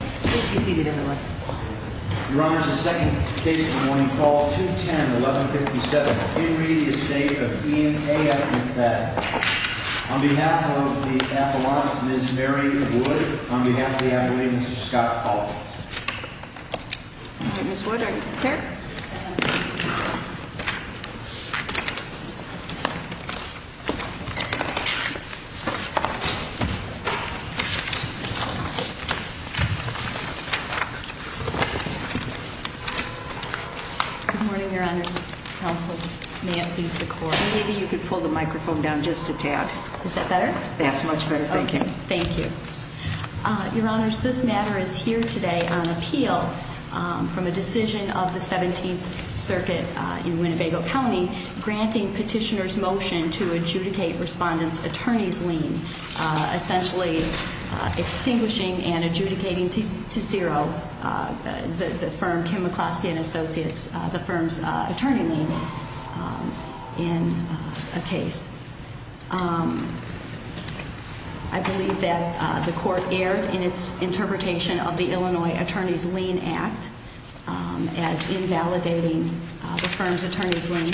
On behalf of the appellant, Ms. Mary Wood, on behalf of the appellant, Mr. Scott Paulson. Good morning, Your Honor. Counsel, may it please the court. Maybe you could pull the microphone down just a tad. Is that better? That's much better, thank you. Thank you. Your Honors, this matter is here today on appeal from a decision of the 17th Circuit in Winnebago County granting petitioners motion to adjudicate respondents' attorney's lien, essentially extinguishing and adjudicating to zero the firm, Kim McCloskey & Associates, the firm's attorney lien in a case. I believe that the court erred in its interpretation of the Illinois Attorney's Lien Act as invalidating the firm's attorney's lien,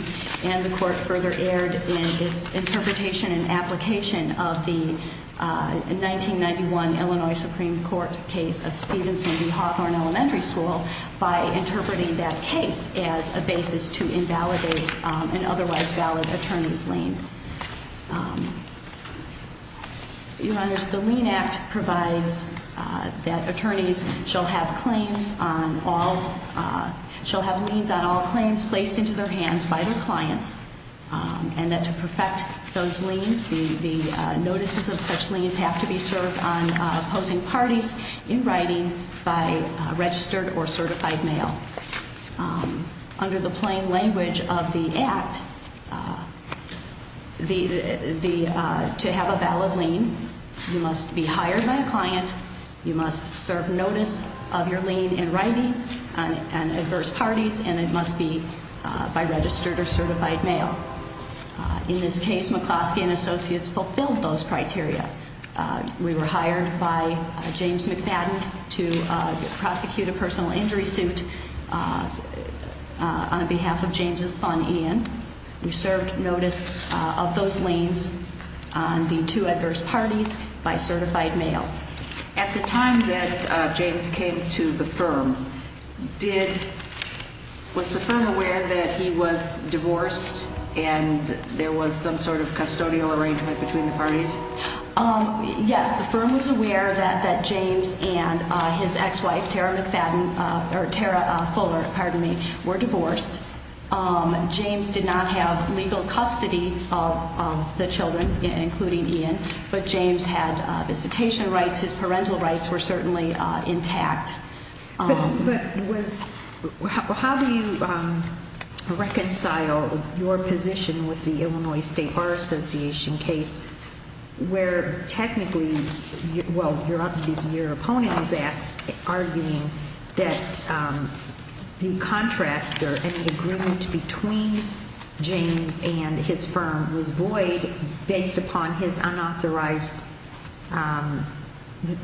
and the court further erred in its interpretation and application of the 1991 Illinois Supreme Court case of Stevenson v. Hawthorne Elementary School by interpreting that case as a basis to invalidate an otherwise valid attorney's lien. Your Honors, the lien act provides that attorneys shall have claims on all, shall have liens on all claims placed into their hands by their clients, and that to perfect those liens, the notices of such liens have to be served on opposing parties in writing by registered or certified mail. Under the plain language of the act, to have a valid lien, you must be hired by a client, you must serve notice of your lien in writing on adverse parties, and it must be by registered or certified mail. In this case, McCloskey & Associates fulfilled those criteria. We were hired by James McFadden to prosecute a personal injury suit on behalf of James' son, Ian. We served notice of those liens on the two adverse parties by certified mail. At the time that James came to the firm, was the firm aware that he was divorced and there was some sort of custodial arrangement between the parties? Yes, the firm was aware that James and his ex-wife, Tara McFadden, or Tara Fuller, pardon me, were divorced. James did not have legal custody of the children, including Ian, but James had visitation rights, his parental rights were certainly intact. But how do you reconcile your position with the Illinois State Bar Association case where technically, well, your opponent is arguing that the contract or any agreement between James and his firm was void based upon his unauthorized,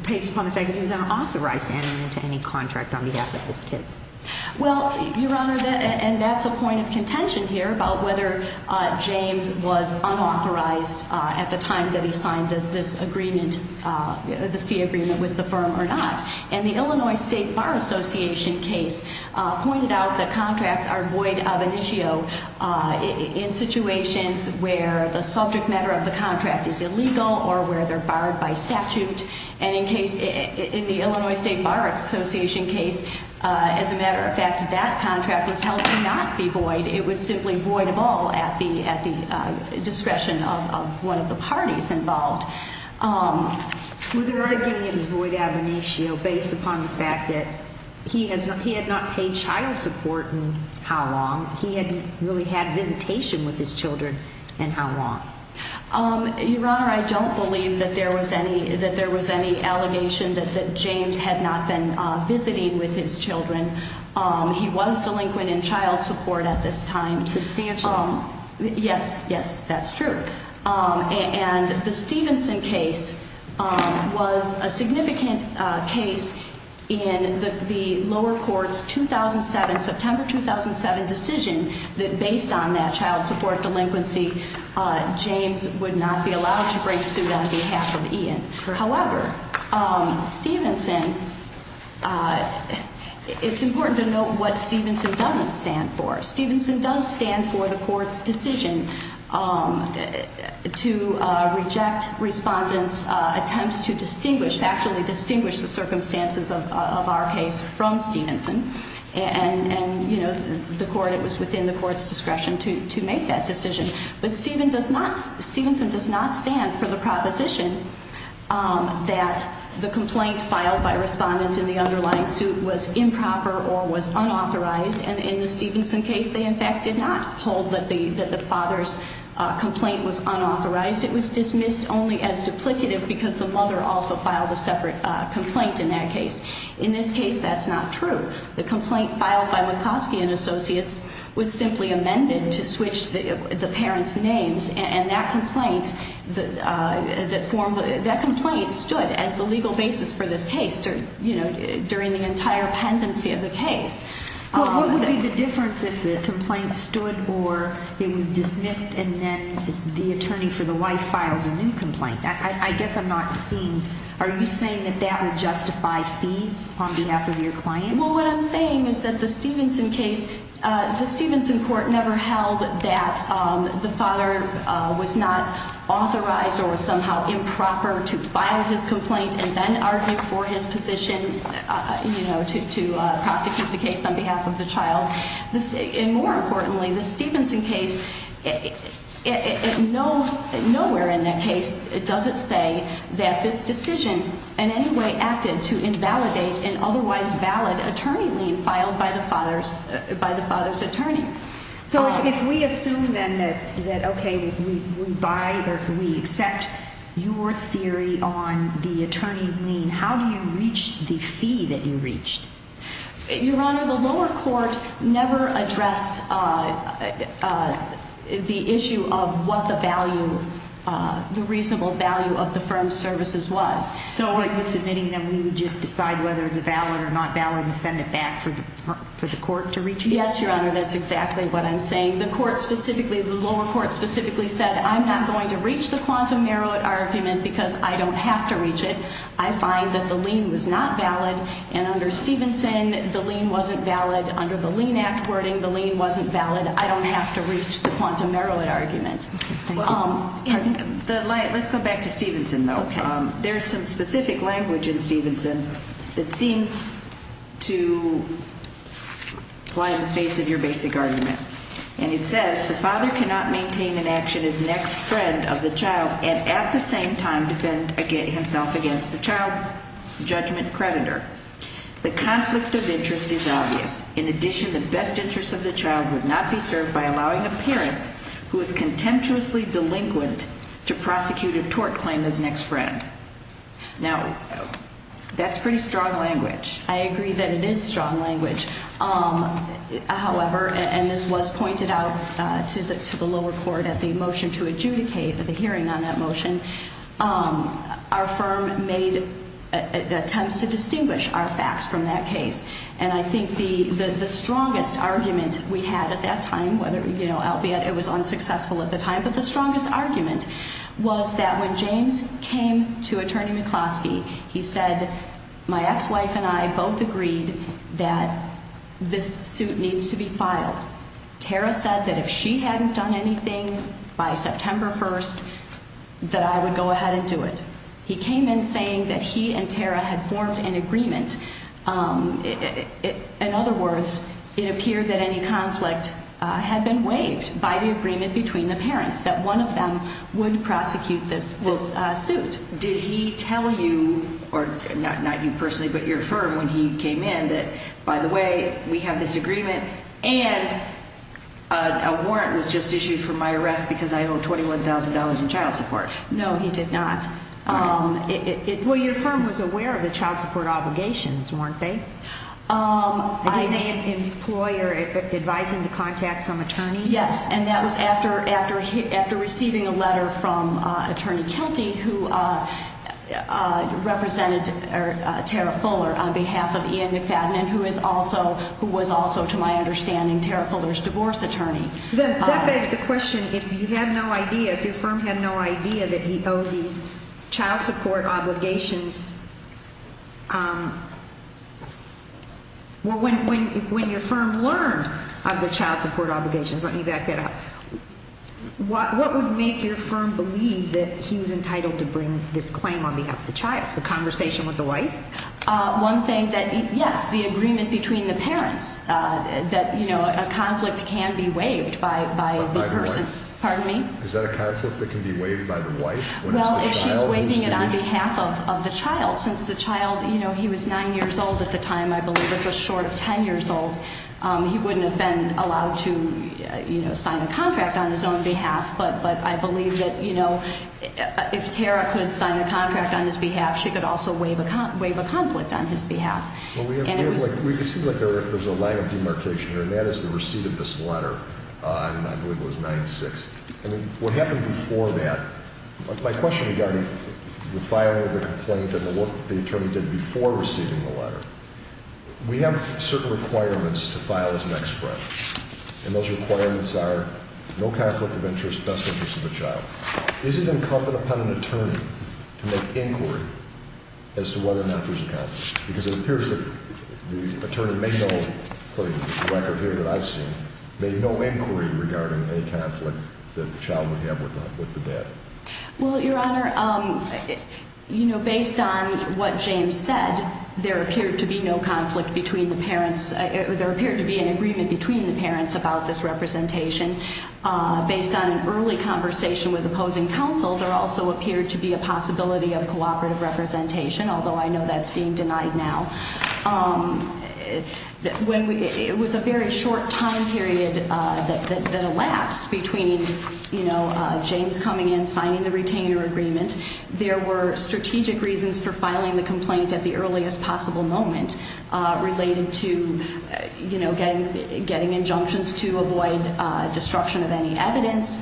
based upon the fact that he was an unauthorized entity? Well, Your Honor, and that's a point of contention here about whether James was unauthorized at the time that he signed this agreement, the fee agreement with the firm or not. And the Illinois State Bar Association case pointed out that contracts are void ab initio in situations where the subject matter of the contract is illegal or where they're barred by statute. And in the Illinois State Bar Association case, as a matter of fact, that contract was held to not be void. It was simply voidable at the discretion of one of the parties involved. Were there arguments void ab initio based upon the fact that he had not paid child support in how long? He hadn't really had visitation with his children in how long? Your Honor, I don't believe that there was any allegation that James had not been visiting with his children. He was delinquent in child support at this time. Substantial? Yes, yes, that's true. And the Stevenson case was a significant case in the lower court's 2007, September 2007 decision that based on that child support delinquency, James would not be allowed to break suit on behalf of Ian. However, Stevenson, it's important to note what Stevenson doesn't stand for. Stevenson does stand for the court's decision to reject respondents' attempts to distinguish, actually distinguish the circumstances of our case from Stevenson. And, you know, the court, it was within the court's discretion to make that decision. But Stevenson does not stand for the proposition that the complaint filed by a respondent in the underlying suit was improper or was unauthorized. And in the Stevenson case, they, in fact, did not hold that the father's complaint was unauthorized. It was dismissed only as duplicative because the mother also filed a separate complaint in that case. In this case, that's not true. The complaint filed by McCloskey & Associates was simply amended to switch the parents' names. And that complaint, that form, that complaint stood as the legal basis for this case, you know, during the entire pendency of the case. Well, what would be the difference if the complaint stood or it was dismissed and then the attorney for the wife files a new complaint? I guess I'm not seeing, are you saying that that would justify fees on behalf of your client? Well, what I'm saying is that the Stevenson case, the Stevenson court never held that the father was not authorized or was somehow improper to file his complaint and then argue for his position, you know, to prosecute the case on behalf of the child. And more importantly, the Stevenson case, nowhere in that case does it say that this decision in any way acted to invalidate an otherwise valid attorney lien filed by the father's attorney. So if we assume then that, okay, we buy or we accept your theory on the attorney lien, how do you reach the fee that you reached? Your Honor, the lower court never addressed the issue of what the value, the reasonable value of the firm's services was. So are you submitting that we would just decide whether it's a valid or not valid and send it back for the court to reach it? Yes, Your Honor, that's exactly what I'm saying. The court specifically, the lower court specifically said, I'm not going to reach the quantum merit argument because I don't have to reach it. I find that the lien was not valid and under Stevenson, the lien wasn't valid. Under the lien act wording, the lien wasn't valid. I don't have to reach the quantum merit argument. Let's go back to Stevenson, though. There's some specific language in Stevenson that seems to fly in the face of your basic argument. And it says, the father cannot maintain an action as next friend of the child and at the same time defend himself against the child judgment creditor. The conflict of interest is obvious. In addition, the best interest of the child would not be served by allowing a parent who is contemptuously delinquent to prosecute a tort claim as next friend. Now, that's pretty strong language. I agree that it is strong language. However, and this was pointed out to the lower court at the motion to adjudicate, the hearing on that motion, our firm made attempts to distinguish our facts from that case. And I think the strongest argument we had at that time, albeit it was unsuccessful at the time, but the strongest argument was that when James came to Attorney McCloskey, he said, my ex-wife and I both agreed that this suit needs to be filed. Tara said that if she hadn't done anything by September 1st, that I would go ahead and do it. He came in saying that he and Tara had formed an agreement. In other words, it appeared that any conflict had been waived by the agreement between the parents, that one of them would prosecute this suit. Did he tell you, or not you personally, but your firm when he came in that, by the way, we have this agreement and a warrant was just issued for my arrest because I owe $21,000 in child support? No, he did not. Well, your firm was aware of the child support obligations, weren't they? I am an employer advising to contact some attorney. Yes, and that was after receiving a letter from Attorney Kelty, who represented Tara Fuller on behalf of Ian McFadden, who was also, to my understanding, Tara Fuller's divorce attorney. That begs the question, if you had no idea, if your firm had no idea that he owed these child support obligations, when your firm learned of the child support obligations, let me back that up, what would make your firm believe that he was entitled to bring this claim on behalf of the child? The conversation with the wife? One thing that, yes, the agreement between the parents, that a conflict can be waived by the person. By the wife? Pardon me? Is that a conflict that can be waived by the wife? Well, if she's waiving it on behalf of the child, since the child, you know, he was 9 years old at the time, I believe, or just short of 10 years old, he wouldn't have been allowed to sign a contract on his own behalf, but I believe that if Tara could sign a contract on his behalf, she could also waive a conflict on his behalf. Well, we can see that there's a line of demarcation here, and that is the receipt of this letter on, I believe it was 9-6. I mean, what happened before that, my question regarding the filing of the complaint and what the attorney did before receiving the letter, we have certain requirements to file as an ex-friend. And those requirements are no conflict of interest, best interest of the child. Is it incumbent upon an attorney to make inquiry as to whether or not there's a conflict? Because it appears that the attorney made no, according to the record here that I've seen, made no inquiry regarding any conflict that the child would have with the dad. Well, Your Honor, you know, based on what James said, there appeared to be no conflict between the parents. There appeared to be an agreement between the parents about this representation. Based on an early conversation with opposing counsel, there also appeared to be a possibility of cooperative representation, although I know that's being denied now. It was a very short time period that elapsed between James coming in, signing the retainer agreement. There were strategic reasons for filing the complaint at the earliest possible moment related to getting injunctions to avoid destruction of any evidence.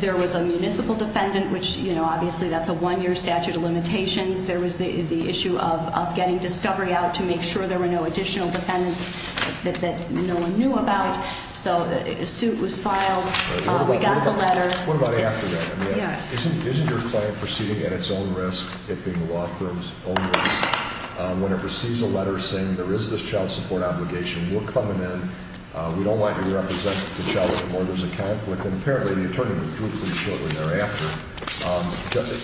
There was a municipal defendant, which obviously that's a one-year statute of limitations. There was the issue of getting discovery out to make sure there were no additional defendants that no one knew about. So a suit was filed. We got the letter. What about after that? Yeah. Isn't your client proceeding at its own risk, it being the law firm's own risk, when it receives a letter saying there is this child support obligation? We're coming in. We don't want you to represent the child anymore. There's a conflict. And apparently the attorney withdrew from the children thereafter.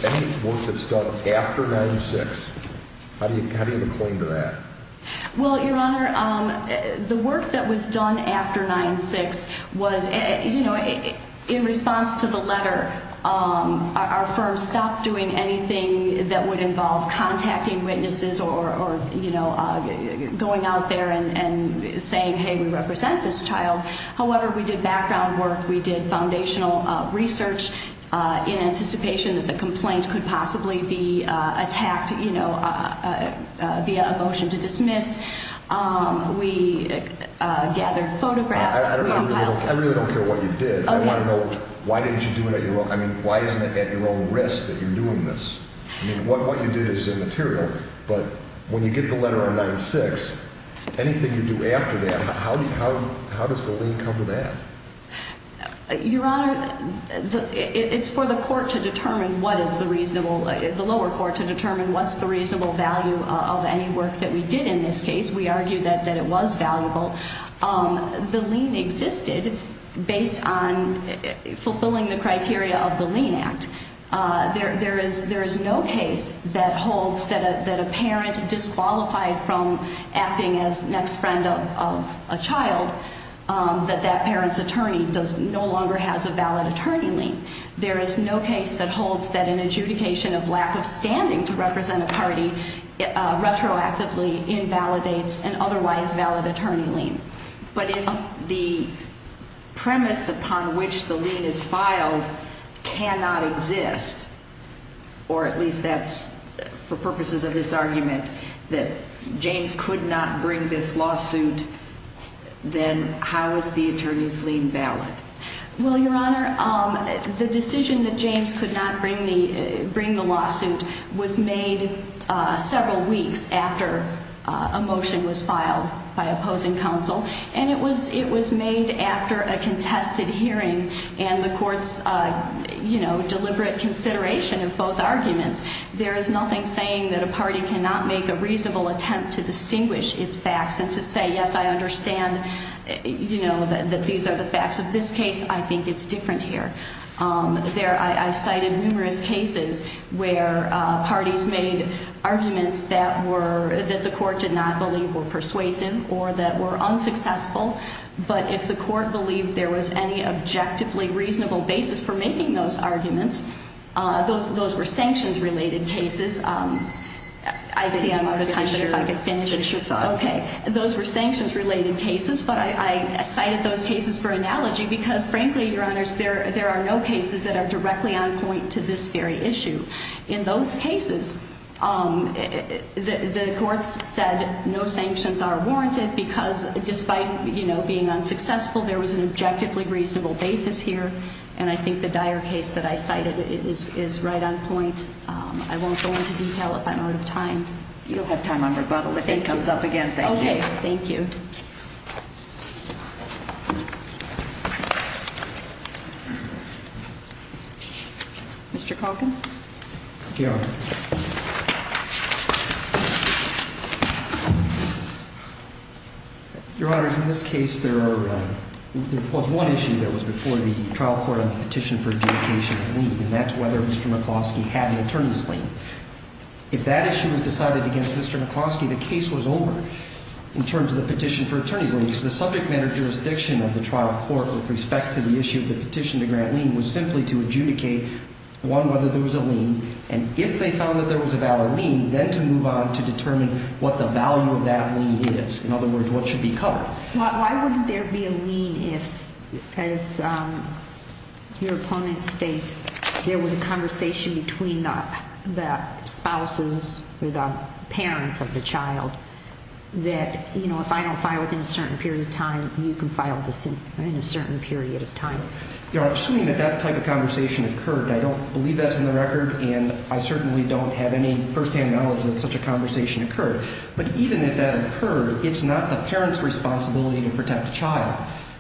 Any work that's done after 9-6, how do you have a claim to that? Well, Your Honor, the work that was done after 9-6 was, you know, in response to the letter, our firm stopped doing anything that would involve contacting witnesses or, you know, going out there and saying, hey, we represent this child. However, we did background work. We did foundational research in anticipation that the complaint could possibly be attacked, you know, via a motion to dismiss. We gathered photographs. I really don't care what you did. I want to know why didn't you do it at your own risk that you're doing this. I mean, what you did is immaterial. But when you get the letter on 9-6, anything you do after that, how does the lien cover that? Your Honor, it's for the court to determine what is the reasonable, the lower court to determine what's the reasonable value of any work that we did in this case. We argue that it was valuable. The lien existed based on fulfilling the criteria of the lien act. There is no case that holds that a parent disqualified from acting as next friend of a child, that that parent's attorney no longer has a valid attorney lien. There is no case that holds that an adjudication of lack of standing to represent a party retroactively invalidates an otherwise valid attorney lien. But if the premise upon which the lien is filed cannot exist, or at least that's for purposes of this argument, that James could not bring this lawsuit, then how is the attorney's lien valid? Well, Your Honor, the decision that James could not bring the lawsuit was made several weeks after a motion was filed by opposing counsel. And it was made after a contested hearing and the court's, you know, deliberate consideration of both arguments. There is nothing saying that a party cannot make a reasonable attempt to distinguish its facts and to say, yes, I understand, you know, that these are the facts of this case. I think it's different here. There, I cited numerous cases where parties made arguments that were, that the court did not believe were persuasive or that were unsuccessful. But if the court believed there was any objectively reasonable basis for making those arguments, those were sanctions-related cases. I see I'm out of time, but if I could finish. Okay. Those were sanctions-related cases, but I cited those cases for analogy because, frankly, Your Honors, there are no cases that are directly on point to this very issue. In those cases, the courts said no sanctions are warranted because despite, you know, being unsuccessful, there was an objectively reasonable basis here. And I think the Dyer case that I cited is right on point. I won't go into detail if I'm out of time. You'll have time on rebuttal if it comes up again. Thank you. Okay. Thank you. Mr. Calkins. Thank you, Your Honor. Your Honors, in this case, there was one issue that was before the trial court on the petition for adjudication of lien, and that's whether Mr. McCloskey had an attorney's lien. If that issue was decided against Mr. McCloskey, the case was over in terms of the petition for adjudication of lien. Your attorneys, ladies, the subject matter jurisdiction of the trial court with respect to the issue of the petition to grant lien was simply to adjudicate, one, whether there was a lien, and if they found that there was a valid lien, then to move on to determine what the value of that lien is. In other words, what should be covered. Why wouldn't there be a lien if, as your opponent states, there was a conversation between the spouses or the parents of the child that, you know, if I don't file it within a certain period of time, you can file this in a certain period of time? Your Honor, assuming that that type of conversation occurred, and I don't believe that's in the record, and I certainly don't have any firsthand knowledge that such a conversation occurred, but even if that occurred, it's not the parent's responsibility to protect the child.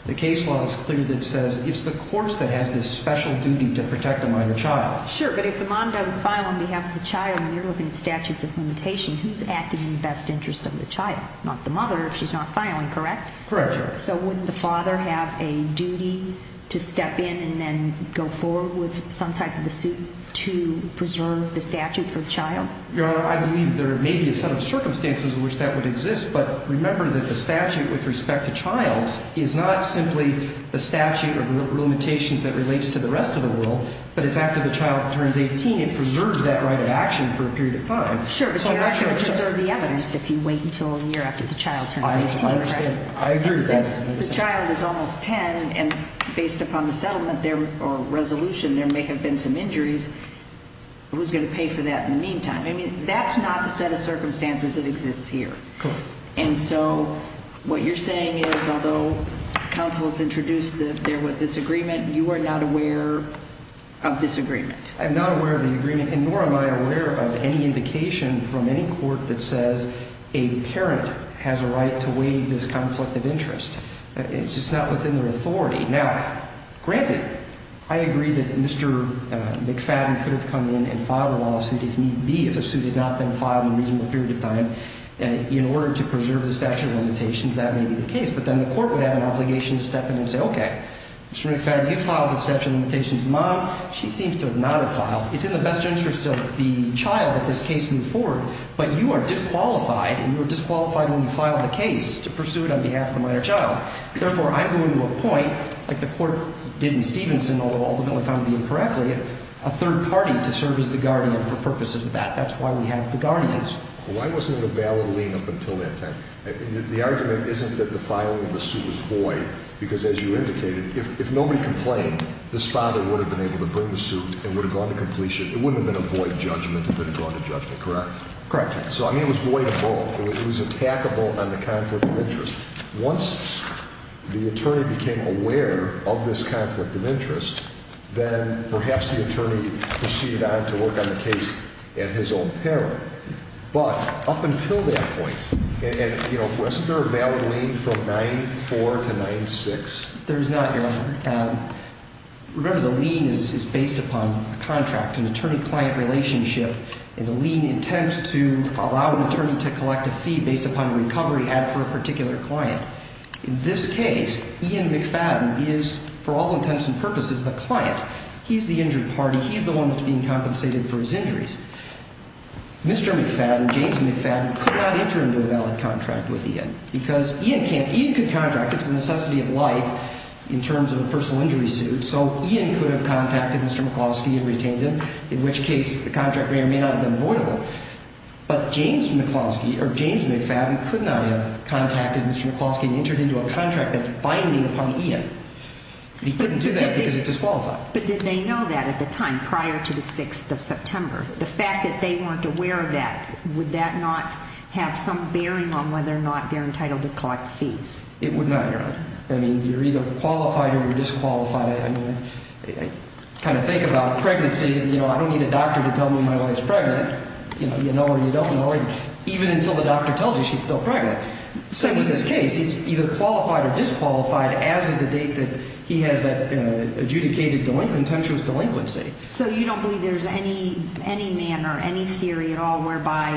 The case law is clear that says it's the courts that has this special duty to protect the minor child. Sure, but if the mom doesn't file on behalf of the child, and you're looking at statutes of limitation, who's acting in the best interest of the child? Not the mother if she's not filing, correct? Correct, Your Honor. So wouldn't the father have a duty to step in and then go forward with some type of a suit to preserve the statute for the child? Your Honor, I believe there may be a set of circumstances in which that would exist, but remember that the statute with respect to child is not simply the statute or the limitations that relates to the rest of the world, but it's after the child turns 18, it preserves that right of action for a period of time. Sure, but you're not going to preserve the evidence if you wait until a year after the child turns 18, correct? I understand. I agree with that. Since the child is almost 10, and based upon the settlement or resolution, there may have been some injuries, who's going to pay for that in the meantime? I mean, that's not the set of circumstances that exists here. Correct. And so what you're saying is, although counsel has introduced that there was this agreement, you are not aware of this agreement? I'm not aware of the agreement, and nor am I aware of any indication from any court that says a parent has a right to waive this conflict of interest. It's just not within their authority. Now, granted, I agree that Mr. McFadden could have come in and filed a lawsuit if need be, if a suit had not been filed in a reasonable period of time, and in order to preserve the statute of limitations, that may be the case, but then the court would have an obligation to step in and say, okay, Mr. McFadden, you filed the statute of limitations. Mom, she seems to have not filed. It's in the best interest of the child that this case move forward, but you are disqualified, and you are disqualified when you file the case to pursue it on behalf of the minor child. Therefore, I'm going to appoint, like the court did in Stevenson, although ultimately found to be incorrectly, a third party to serve as the guardian for purposes of that. That's why we have the guardians. Why wasn't it a valid lien up until that time? The argument isn't that the filing of the suit was void because, as you indicated, if nobody complained, this father would have been able to bring the suit and would have gone to completion. It wouldn't have been a void judgment. It would have gone to judgment, correct? Correct. So, I mean, it was void of all. It was attackable on the conflict of interest. Once the attorney became aware of this conflict of interest, then perhaps the attorney proceeded on to work on the case at his own peril. But up until that point, wasn't there a valid lien from 94 to 96? There is not, Your Honor. Remember, the lien is based upon a contract, an attorney-client relationship, and the lien intends to allow an attorney to collect a fee based upon a recovery had for a particular client. In this case, Ian McFadden is, for all intents and purposes, the client. He's the injured party. He's the one that's being compensated for his injuries. Mr. McFadden, James McFadden, could not enter into a valid contract with Ian because Ian can't. Ian could contract. It's a necessity of life in terms of a personal injury suit. So Ian could have contacted Mr. McCloskey and retained him, in which case the contract may or may not have been voidable. But James McFadden could not have contacted Mr. McCloskey and entered into a contract that's binding upon Ian. He couldn't do that because it's disqualified. But did they know that at the time prior to the 6th of September? The fact that they weren't aware of that, would that not have some bearing on whether or not they're entitled to collect fees? It would not, Your Honor. I mean, you're either qualified or you're disqualified. I mean, I kind of think about pregnancy, and, you know, I don't need a doctor to tell me my wife's pregnant. You know her, you don't know her, even until the doctor tells you she's still pregnant. Same with this case. He's either qualified or disqualified as of the date that he has that adjudicated contemptuous delinquency. So you don't believe there's any manner, any theory at all, whereby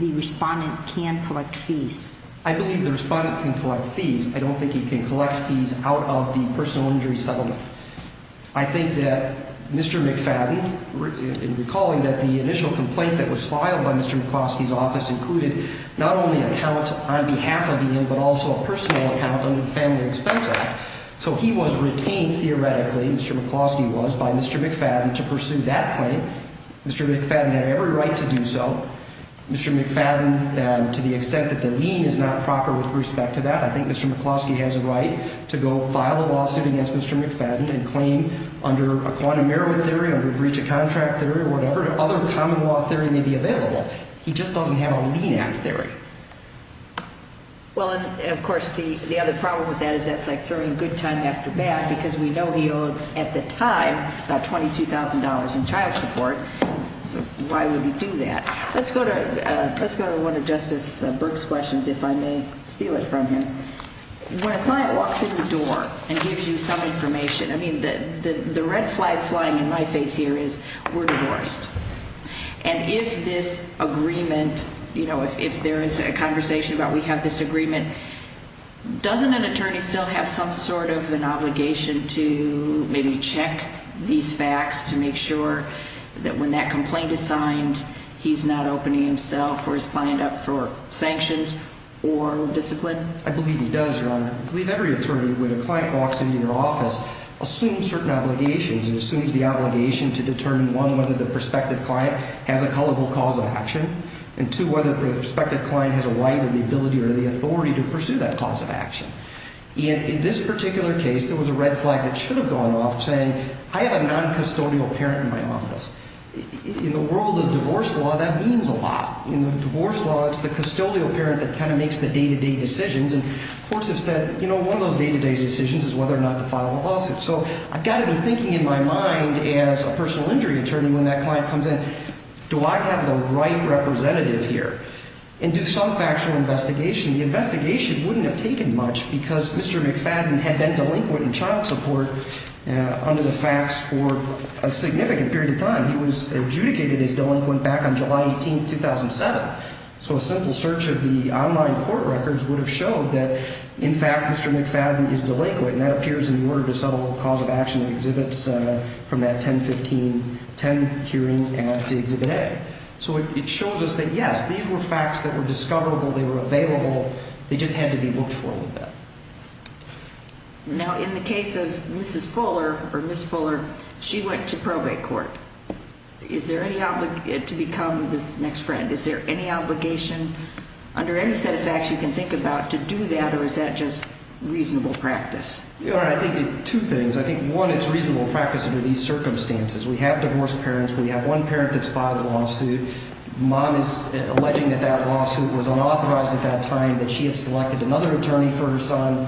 the respondent can collect fees? I believe the respondent can collect fees. I don't think he can collect fees out of the personal injury settlement. I think that Mr. McFadden, in recalling that the initial complaint that was filed by Mr. McCloskey's office included not only an account on behalf of Ian, but also a personal account under the Family Expense Act. So he was retained theoretically, Mr. McCloskey was, by Mr. McFadden to pursue that claim. Mr. McFadden had every right to do so. Mr. McFadden, to the extent that the lien is not proper with respect to that, I think Mr. McCloskey has a right to go file a lawsuit against Mr. McFadden and claim under a quantum merit theory, under a breach of contract theory or whatever, other common law theory may be available. He just doesn't have a lien act theory. Well, of course, the other problem with that is that's like throwing a good time after bad because we know he owed, at the time, about $22,000 in child support. So why would he do that? Let's go to one of Justice Burke's questions, if I may steal it from him. When a client walks in the door and gives you some information, I mean, the red flag flying in my face here is we're divorced. And if this agreement, you know, if there is a conversation about we have this agreement, doesn't an attorney still have some sort of an obligation to maybe check these facts to make sure that when that complaint is signed he's not opening himself or his client up for sanctions or discipline? I believe he does, Your Honor. I believe every attorney, when a client walks into your office, assumes certain obligations. It assumes the obligation to determine, one, whether the prospective client has a culpable cause of action, and, two, whether the prospective client has a right or the ability or the authority to pursue that cause of action. In this particular case, there was a red flag that should have gone off saying I have a noncustodial parent in my office. In the world of divorce law, that means a lot. In divorce law, it's the custodial parent that kind of makes the day-to-day decisions. And courts have said, you know, one of those day-to-day decisions is whether or not to file a lawsuit. So I've got to be thinking in my mind as a personal injury attorney when that client comes in, do I have the right representative here and do some factual investigation? The investigation wouldn't have taken much because Mr. McFadden had been delinquent in child support under the facts for a significant period of time. He was adjudicated as delinquent back on July 18, 2007. So a simple search of the online court records would have showed that, in fact, Mr. McFadden is delinquent, and that appears in the Order to Subtle Cause of Action and Exhibits from that 10-15-10 hearing at Exhibit A. So it shows us that, yes, these were facts that were discoverable, they were available, they just had to be looked for a little bit. Now, in the case of Mrs. Fuller or Ms. Fuller, she went to probate court. Is there any obligation to become this next friend? Is there any obligation under any set of facts you can think about to do that, or is that just reasonable practice? I think two things. I think, one, it's reasonable practice under these circumstances. We have divorced parents. We have one parent that's filed a lawsuit. Mom is alleging that that lawsuit was unauthorized at that time, that she had selected another attorney for her son.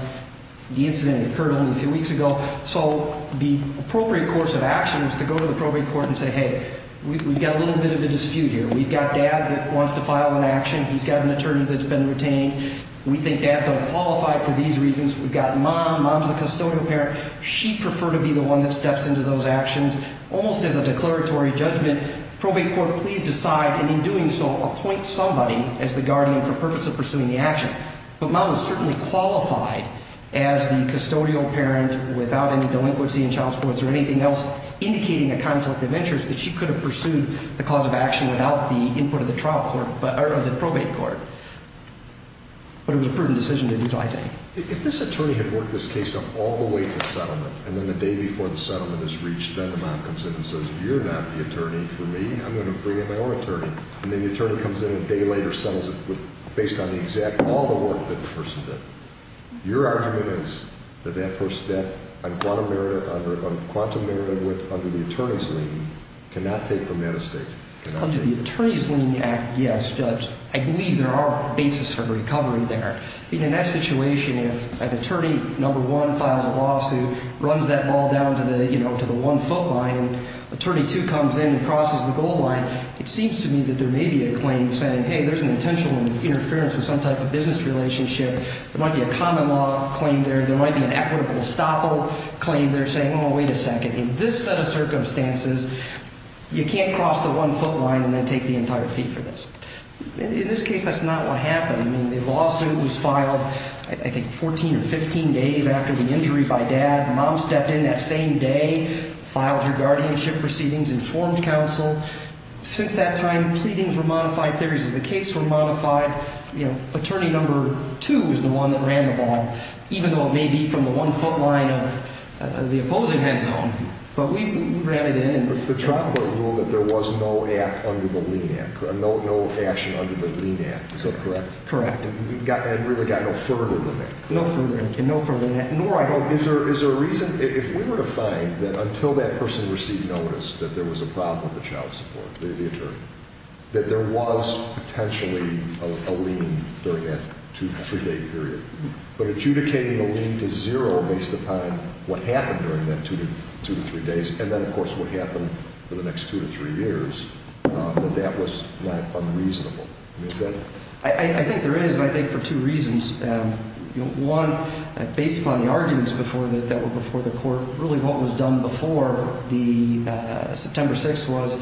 The incident occurred only a few weeks ago. So the appropriate course of action is to go to the probate court and say, hey, we've got a little bit of a dispute here. We've got Dad that wants to file an action. He's got an attorney that's been retained. We think Dad's unqualified for these reasons. We've got Mom. Mom's the custodial parent. She'd prefer to be the one that steps into those actions. Almost as a declaratory judgment, probate court, please decide, and in doing so, appoint somebody as the guardian for purpose of pursuing the action. But Mom is certainly qualified as the custodial parent without any delinquency in child supports or anything else, indicating a conflict of interest that she could have pursued the cause of action without the input of the probate court. But it was a prudent decision to do so, I think. If this attorney had worked this case up all the way to settlement, and then the day before the settlement is reached, then the mom comes in and says, you're not the attorney for me. I'm going to bring in my own attorney. And then the attorney comes in a day later, settles it based on the exact all the work that the person did. Your argument is that that person, that quantum merit under the attorney's lien, cannot take from that estate. Under the Attorney's Lien Act, yes, Judge. I believe there are basis for recovery there. In that situation, if an attorney, number one, files a lawsuit, runs that ball down to the one-foot line, and attorney two comes in and crosses the goal line, it seems to me that there may be a claim saying, hey, there's an intentional interference with some type of business relationship. There might be a common law claim there. There might be an equitable estoppel claim there saying, oh, wait a second. In this set of circumstances, you can't cross the one-foot line and then take the entire fee for this. In this case, that's not what happened. The lawsuit was filed, I think, 14 or 15 days after the injury by Dad. Mom stepped in that same day, filed her guardianship proceedings, informed counsel. Since that time, pleadings were modified, theories of the case were modified. Attorney number two is the one that ran the ball, even though it may be from the one-foot line of the opposing end zone. But we ran it in. The trial court ruled that there was no act under the lien act, no action under the lien act. Is that correct? Correct. And really got no further than that? No further than that. Is there a reason? If we were to find that until that person received notice that there was a problem with the child support, the attorney, that there was potentially a lien during that two- to three-day period, but adjudicating a lien to zero based upon what happened during that two to three days and then, of course, what happened for the next two to three years, that that was not unreasonable. I think there is, and I think for two reasons. One, based upon the arguments that were before the court, really what was done before September 6th was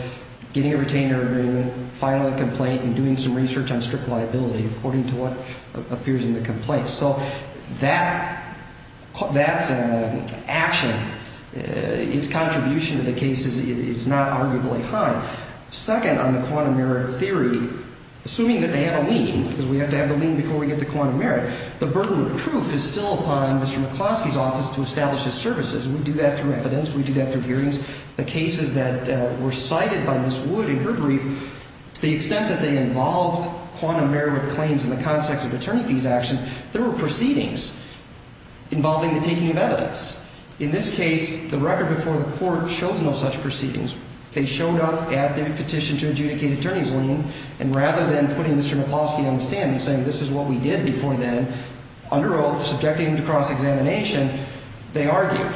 getting a retainer agreement, filing a complaint, and doing some research on strict liability according to what appears in the complaint. So that's an action. Its contribution to the case is not arguably high. Second, on the quantum merit theory, assuming that they have a lien, because we have to have a lien before we get to quantum merit, the burden of proof is still upon Mr. McCloskey's office to establish his services. We do that through evidence. We do that through hearings. The cases that were cited by Ms. Wood in her brief, to the extent that they involved quantum merit claims in the context of attorney fees actions, there were proceedings involving the taking of evidence. In this case, the record before the court shows no such proceedings. They showed up at the petition to adjudicate attorney's lien, and rather than putting Mr. McCloskey on the stand and saying, this is what we did before then, under oath, subjecting him to cross-examination, they argued.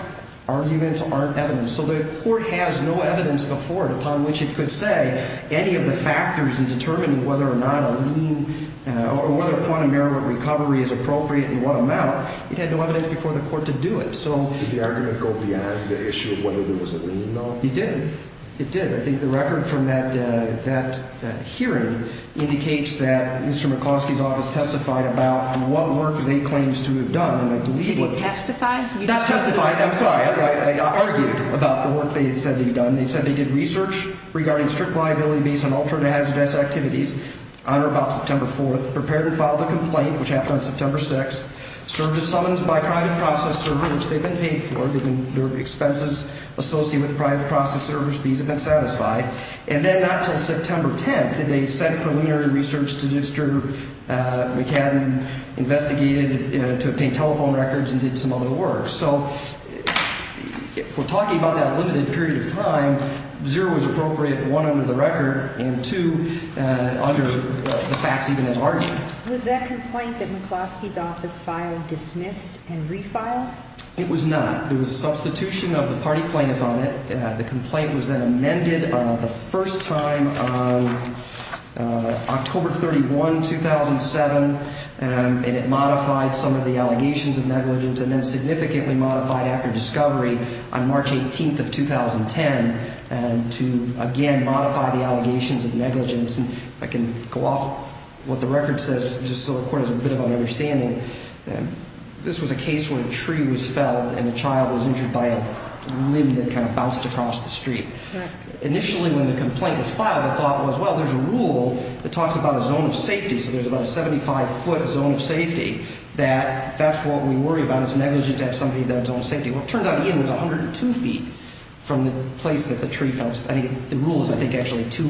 Arguments aren't evidence. So the court has no evidence before it upon which it could say any of the factors in determining whether or not a lien or whether quantum merit recovery is appropriate and what amount. It had no evidence before the court to do it. Did the argument go beyond the issue of whether there was a lien at all? It did. It did. I think the record from that hearing indicates that Mr. McCloskey's office testified about what work they claimed to have done. Did he testify? Not testify. I'm sorry. I argued about the work they said they had done. They said they did research regarding strict liability based on alternate hazardous activities on or about September 4th, prepared and filed a complaint, which happened on September 6th, served as summons by a private process server, which they've been paid for, their expenses associated with private process servers, fees have been satisfied. And then not until September 10th did they send preliminary research to district, McCabin investigated to obtain telephone records and did some other work. So we're talking about that limited period of time. Zero was appropriate, one, under the record, and two, under the facts even as argued. Was that complaint that McCloskey's office filed dismissed and refiled? It was not. There was a substitution of the party plaintiff on it. The complaint was then amended the first time on October 31, 2007, and it modified some of the allegations of negligence and then significantly modified after discovery on March 18th of 2010 to again modify the allegations of negligence. If I can go off what the record says just so the Court has a bit of an understanding, this was a case where a tree was felled and a child was injured by a limb that kind of bounced across the street. Initially when the complaint was filed, the thought was, well, there's a rule that talks about a zone of safety. So there's about a 75-foot zone of safety that that's what we worry about is negligence, have somebody in that zone of safety. Well, it turns out Ian was 102 feet from the place that the tree fell. I think the rule is actually two,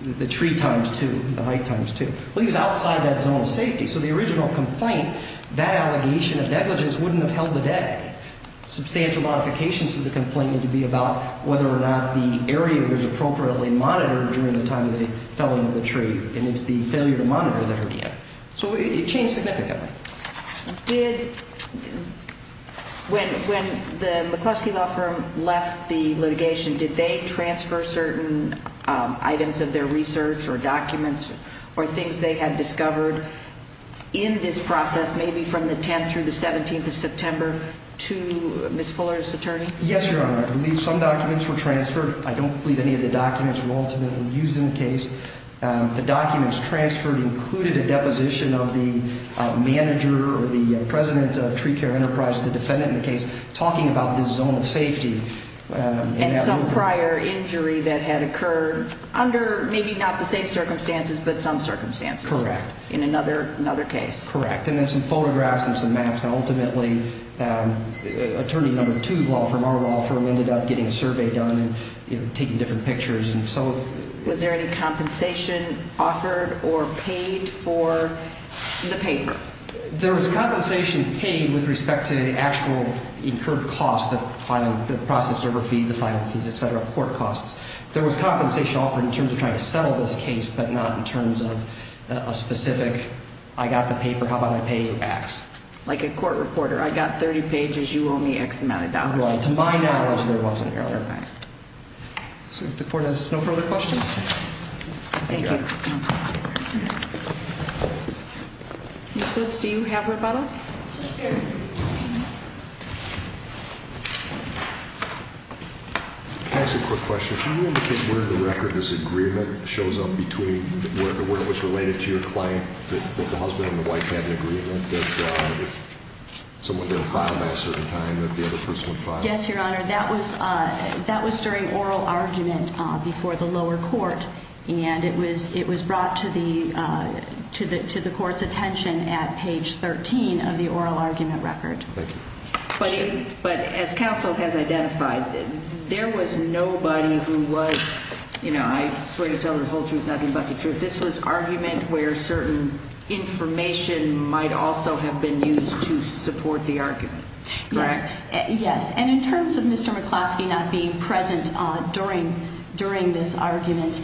the tree times two, the height times two. Well, he was outside that zone of safety. So the original complaint, that allegation of negligence wouldn't have held the day. Substantial modifications to the complaint need to be about whether or not the area was appropriately monitored during the time that it fell under the tree, and it's the failure to monitor that hurt Ian. So it changed significantly. When the McCluskey Law Firm left the litigation, did they transfer certain items of their research or documents or things they had discovered in this process, maybe from the 10th through the 17th of September to Ms. Fuller's attorney? Yes, Your Honor. I believe some documents were transferred. I don't believe any of the documents were ultimately used in the case. The documents transferred included a deposition of the manager or the president of Tree Care Enterprise, the defendant in the case, talking about this zone of safety. And some prior injury that had occurred under maybe not the same circumstances but some circumstances. Correct. In another case. Correct. And then some photographs and some maps, and ultimately attorney number two of the law firm, our law firm, ended up getting a survey done and taking different pictures. Was there any compensation offered or paid for the paper? There was compensation paid with respect to actual incurred costs, the process server fees, the filing fees, et cetera, court costs. There was compensation offered in terms of trying to settle this case but not in terms of a specific I got the paper, how about I pay X. Like a court reporter, I got 30 pages, you owe me X amount of dollars. Right. To my knowledge, there wasn't, Your Honor. Right. So if the court has no further questions. Thank you. Ms. Hoots, do you have a rebuttal? Yes, Your Honor. Can I ask a quick question? Can you indicate where in the record this agreement shows up between where it was related to your client, that the husband and the wife had an agreement, that if someone didn't file by a certain time that the other person would file? Yes, Your Honor. That was during oral argument before the lower court, and it was brought to the court's attention at page 13 of the oral argument record. Thank you. But as counsel has identified, there was nobody who was, you know, I swear to tell the whole truth, nothing but the truth, this was argument where certain information might also have been used to support the argument, correct? Yes. And in terms of Mr. McCloskey not being present during this argument,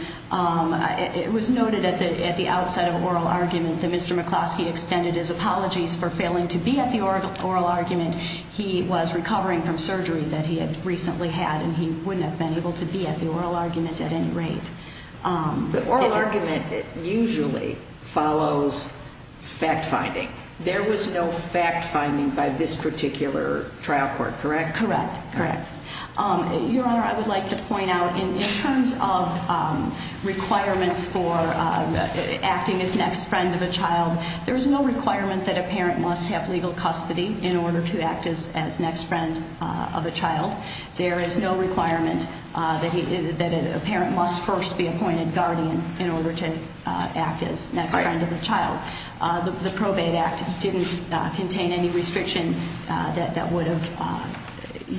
it was noted at the outset of oral argument that Mr. McCloskey extended his apologies for failing to be at the oral argument. He was recovering from surgery that he had recently had, and he wouldn't have been able to be at the oral argument at any rate. The oral argument usually follows fact-finding. There was no fact-finding by this particular trial court, correct? Correct. Correct. Your Honor, I would like to point out in terms of requirements for acting as next friend of a child, there is no requirement that a parent must have legal custody in order to act as next friend of a child. There is no requirement that a parent must first be appointed guardian in order to act as next friend of a child. The Probate Act didn't contain any restriction that would have.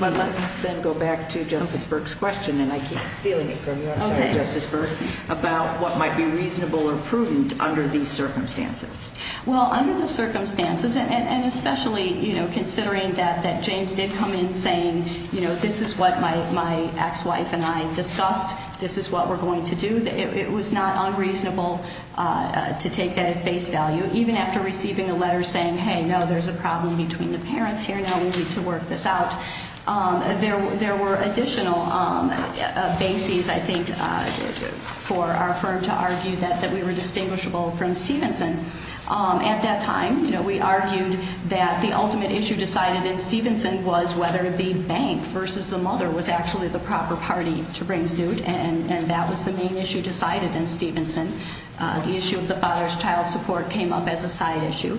But let's then go back to Justice Burke's question, and I keep stealing it from you, I'm sorry, Justice Burke, about what might be reasonable or prudent under these circumstances. Well, under the circumstances, and especially, you know, considering that James did come in saying, you know, this is what my ex-wife and I discussed, this is what we're going to do, it was not unreasonable to take that at face value, even after receiving a letter saying, hey, no, there's a problem between the parents here, now we need to work this out. There were additional bases, I think, for our firm to argue that we were distinguishable from Stevenson. At that time, you know, we argued that the ultimate issue decided in Stevenson was whether the bank versus the mother was actually the proper party to bring suit, and that was the main issue decided in Stevenson. The issue of the father's child support came up as a side issue.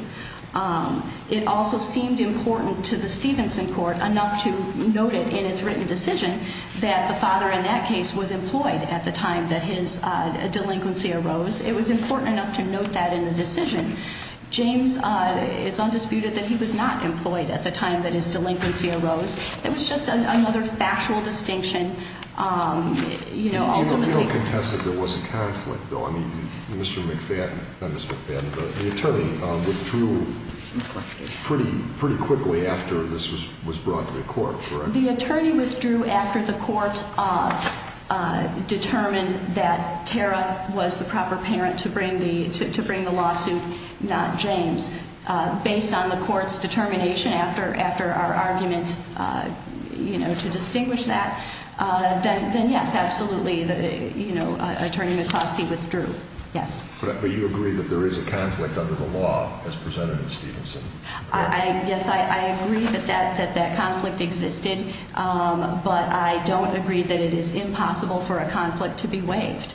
It also seemed important to the Stevenson court enough to note it in its written decision that the father, in that case, was employed at the time that his delinquency arose. It was important enough to note that in the decision. James, it's undisputed that he was not employed at the time that his delinquency arose. It was just another factual distinction, you know, ultimately. You don't contest that there was a conflict, though. I mean, Mr. McFadden, not Mr. McFadden, but the attorney withdrew pretty quickly after this was brought to the court, correct? The attorney withdrew after the court determined that Tara was the proper parent to bring the lawsuit, not James. Based on the court's determination after our argument to distinguish that, then yes, absolutely, you know, Attorney McCloskey withdrew, yes. But you agree that there is a conflict under the law as presented in Stevenson? Yes, I agree that that conflict existed, but I don't agree that it is impossible for a conflict to be waived.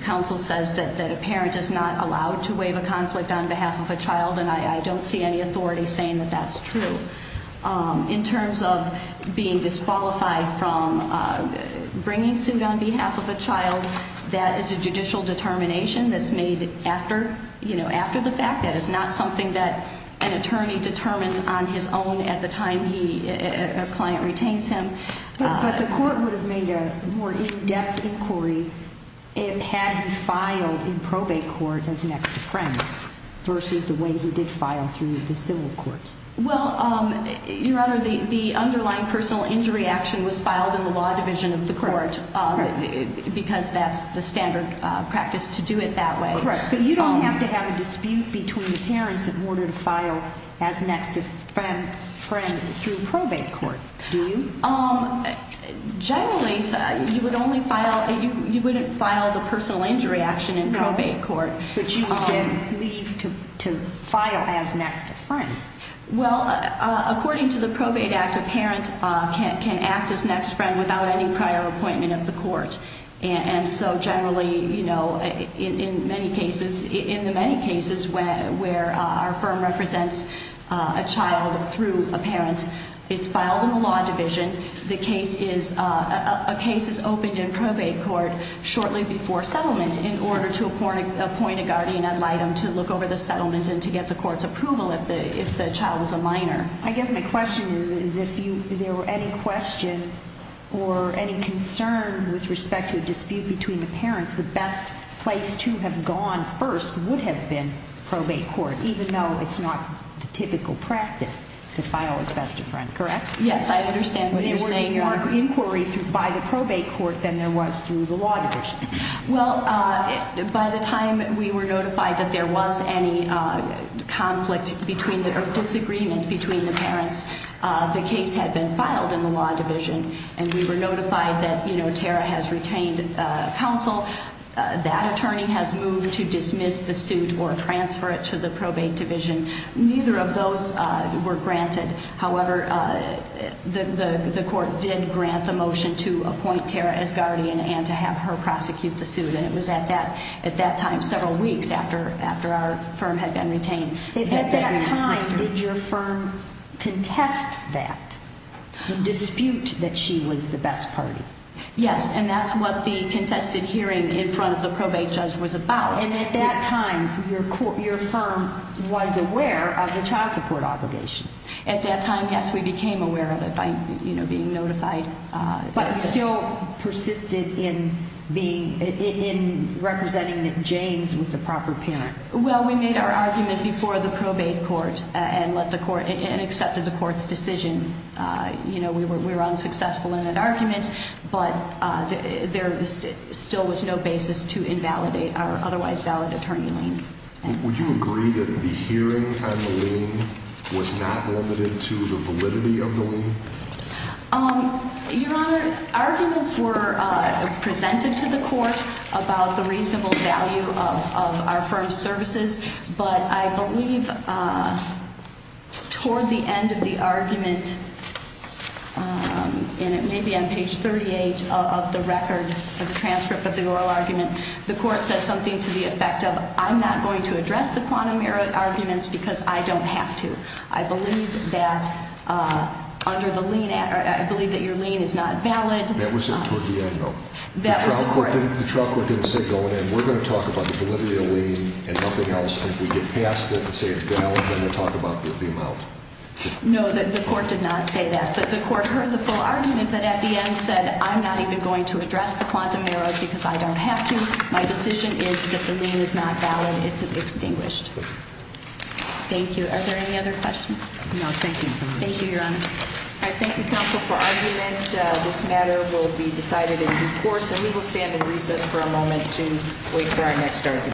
Counsel says that a parent is not allowed to waive a conflict on behalf of a child, and I don't see any authority saying that that's true. In terms of being disqualified from bringing suit on behalf of a child, that is a judicial determination that's made after the fact. That is not something that an attorney determines on his own at the time a client retains him. But the court would have made a more in-depth inquiry had he filed in probate court as next of friend versus the way he did file through the civil courts. Well, Your Honor, the underlying personal injury action was filed in the law division of the court because that's the standard practice to do it that way. Correct. But you don't have to have a dispute between the parents in order to file as next of friend through probate court, do you? Generally, you wouldn't file the personal injury action in probate court. But you can leave to file as next of friend. Well, according to the Probate Act, a parent can act as next friend without any prior appointment of the court. And so generally, you know, in the many cases where our firm represents a child through a parent, it's filed in the law division. A case is opened in probate court shortly before settlement in order to appoint a guardian ad litem to look over the settlement and to get the court's approval if the child was a minor. I guess my question is if there were any question or any concern with respect to a dispute between the parents, the best place to have gone first would have been probate court, even though it's not the typical practice to file as best of friend, correct? Yes, I understand what you're saying, Your Honor. There would be more inquiry by the probate court than there was through the law division. Well, by the time we were notified that there was any conflict between or disagreement between the parents, the case had been filed in the law division. And we were notified that, you know, Tara has retained counsel. That attorney has moved to dismiss the suit or transfer it to the probate division. Neither of those were granted. However, the court did grant the motion to appoint Tara as guardian and to have her prosecute the suit. And it was at that time several weeks after our firm had been retained. At that time, did your firm contest that, dispute that she was the best party? Yes, and that's what the contested hearing in front of the probate judge was about. And at that time, your firm was aware of the child support obligations. At that time, yes, we became aware of it by, you know, being notified. But you still persisted in being, in representing that James was the proper parent. Well, we made our argument before the probate court and let the court and accepted the court's decision. You know, we were unsuccessful in that argument, but there still was no basis to invalidate our otherwise valid attorney lien. Would you agree that the hearing on the lien was not limited to the validity of the lien? Your Honor, arguments were presented to the court about the reasonable value of our firm's services. But I believe toward the end of the argument, and it may be on page 38 of the record, the transcript of the oral argument, the court said something to the effect of, I'm not going to address the quantum merit arguments because I don't have to. I believe that under the lien, I believe that your lien is not valid. That was it toward the end, though. That was the court. The trial court didn't say, go ahead, we're going to talk about the validity of the lien and nothing else. If we get past it and say it's valid, then we'll talk about the amount. No, the court did not say that. The court heard the full argument, but at the end said, I'm not even going to address the quantum merit because I don't have to. My decision is that the lien is not valid. It's extinguished. Thank you. Thank you. Are there any other questions? No, thank you. Thank you, Your Honor. I thank the counsel for argument. This matter will be decided in due course, and we will stand in recess for a moment to wait for our next argument.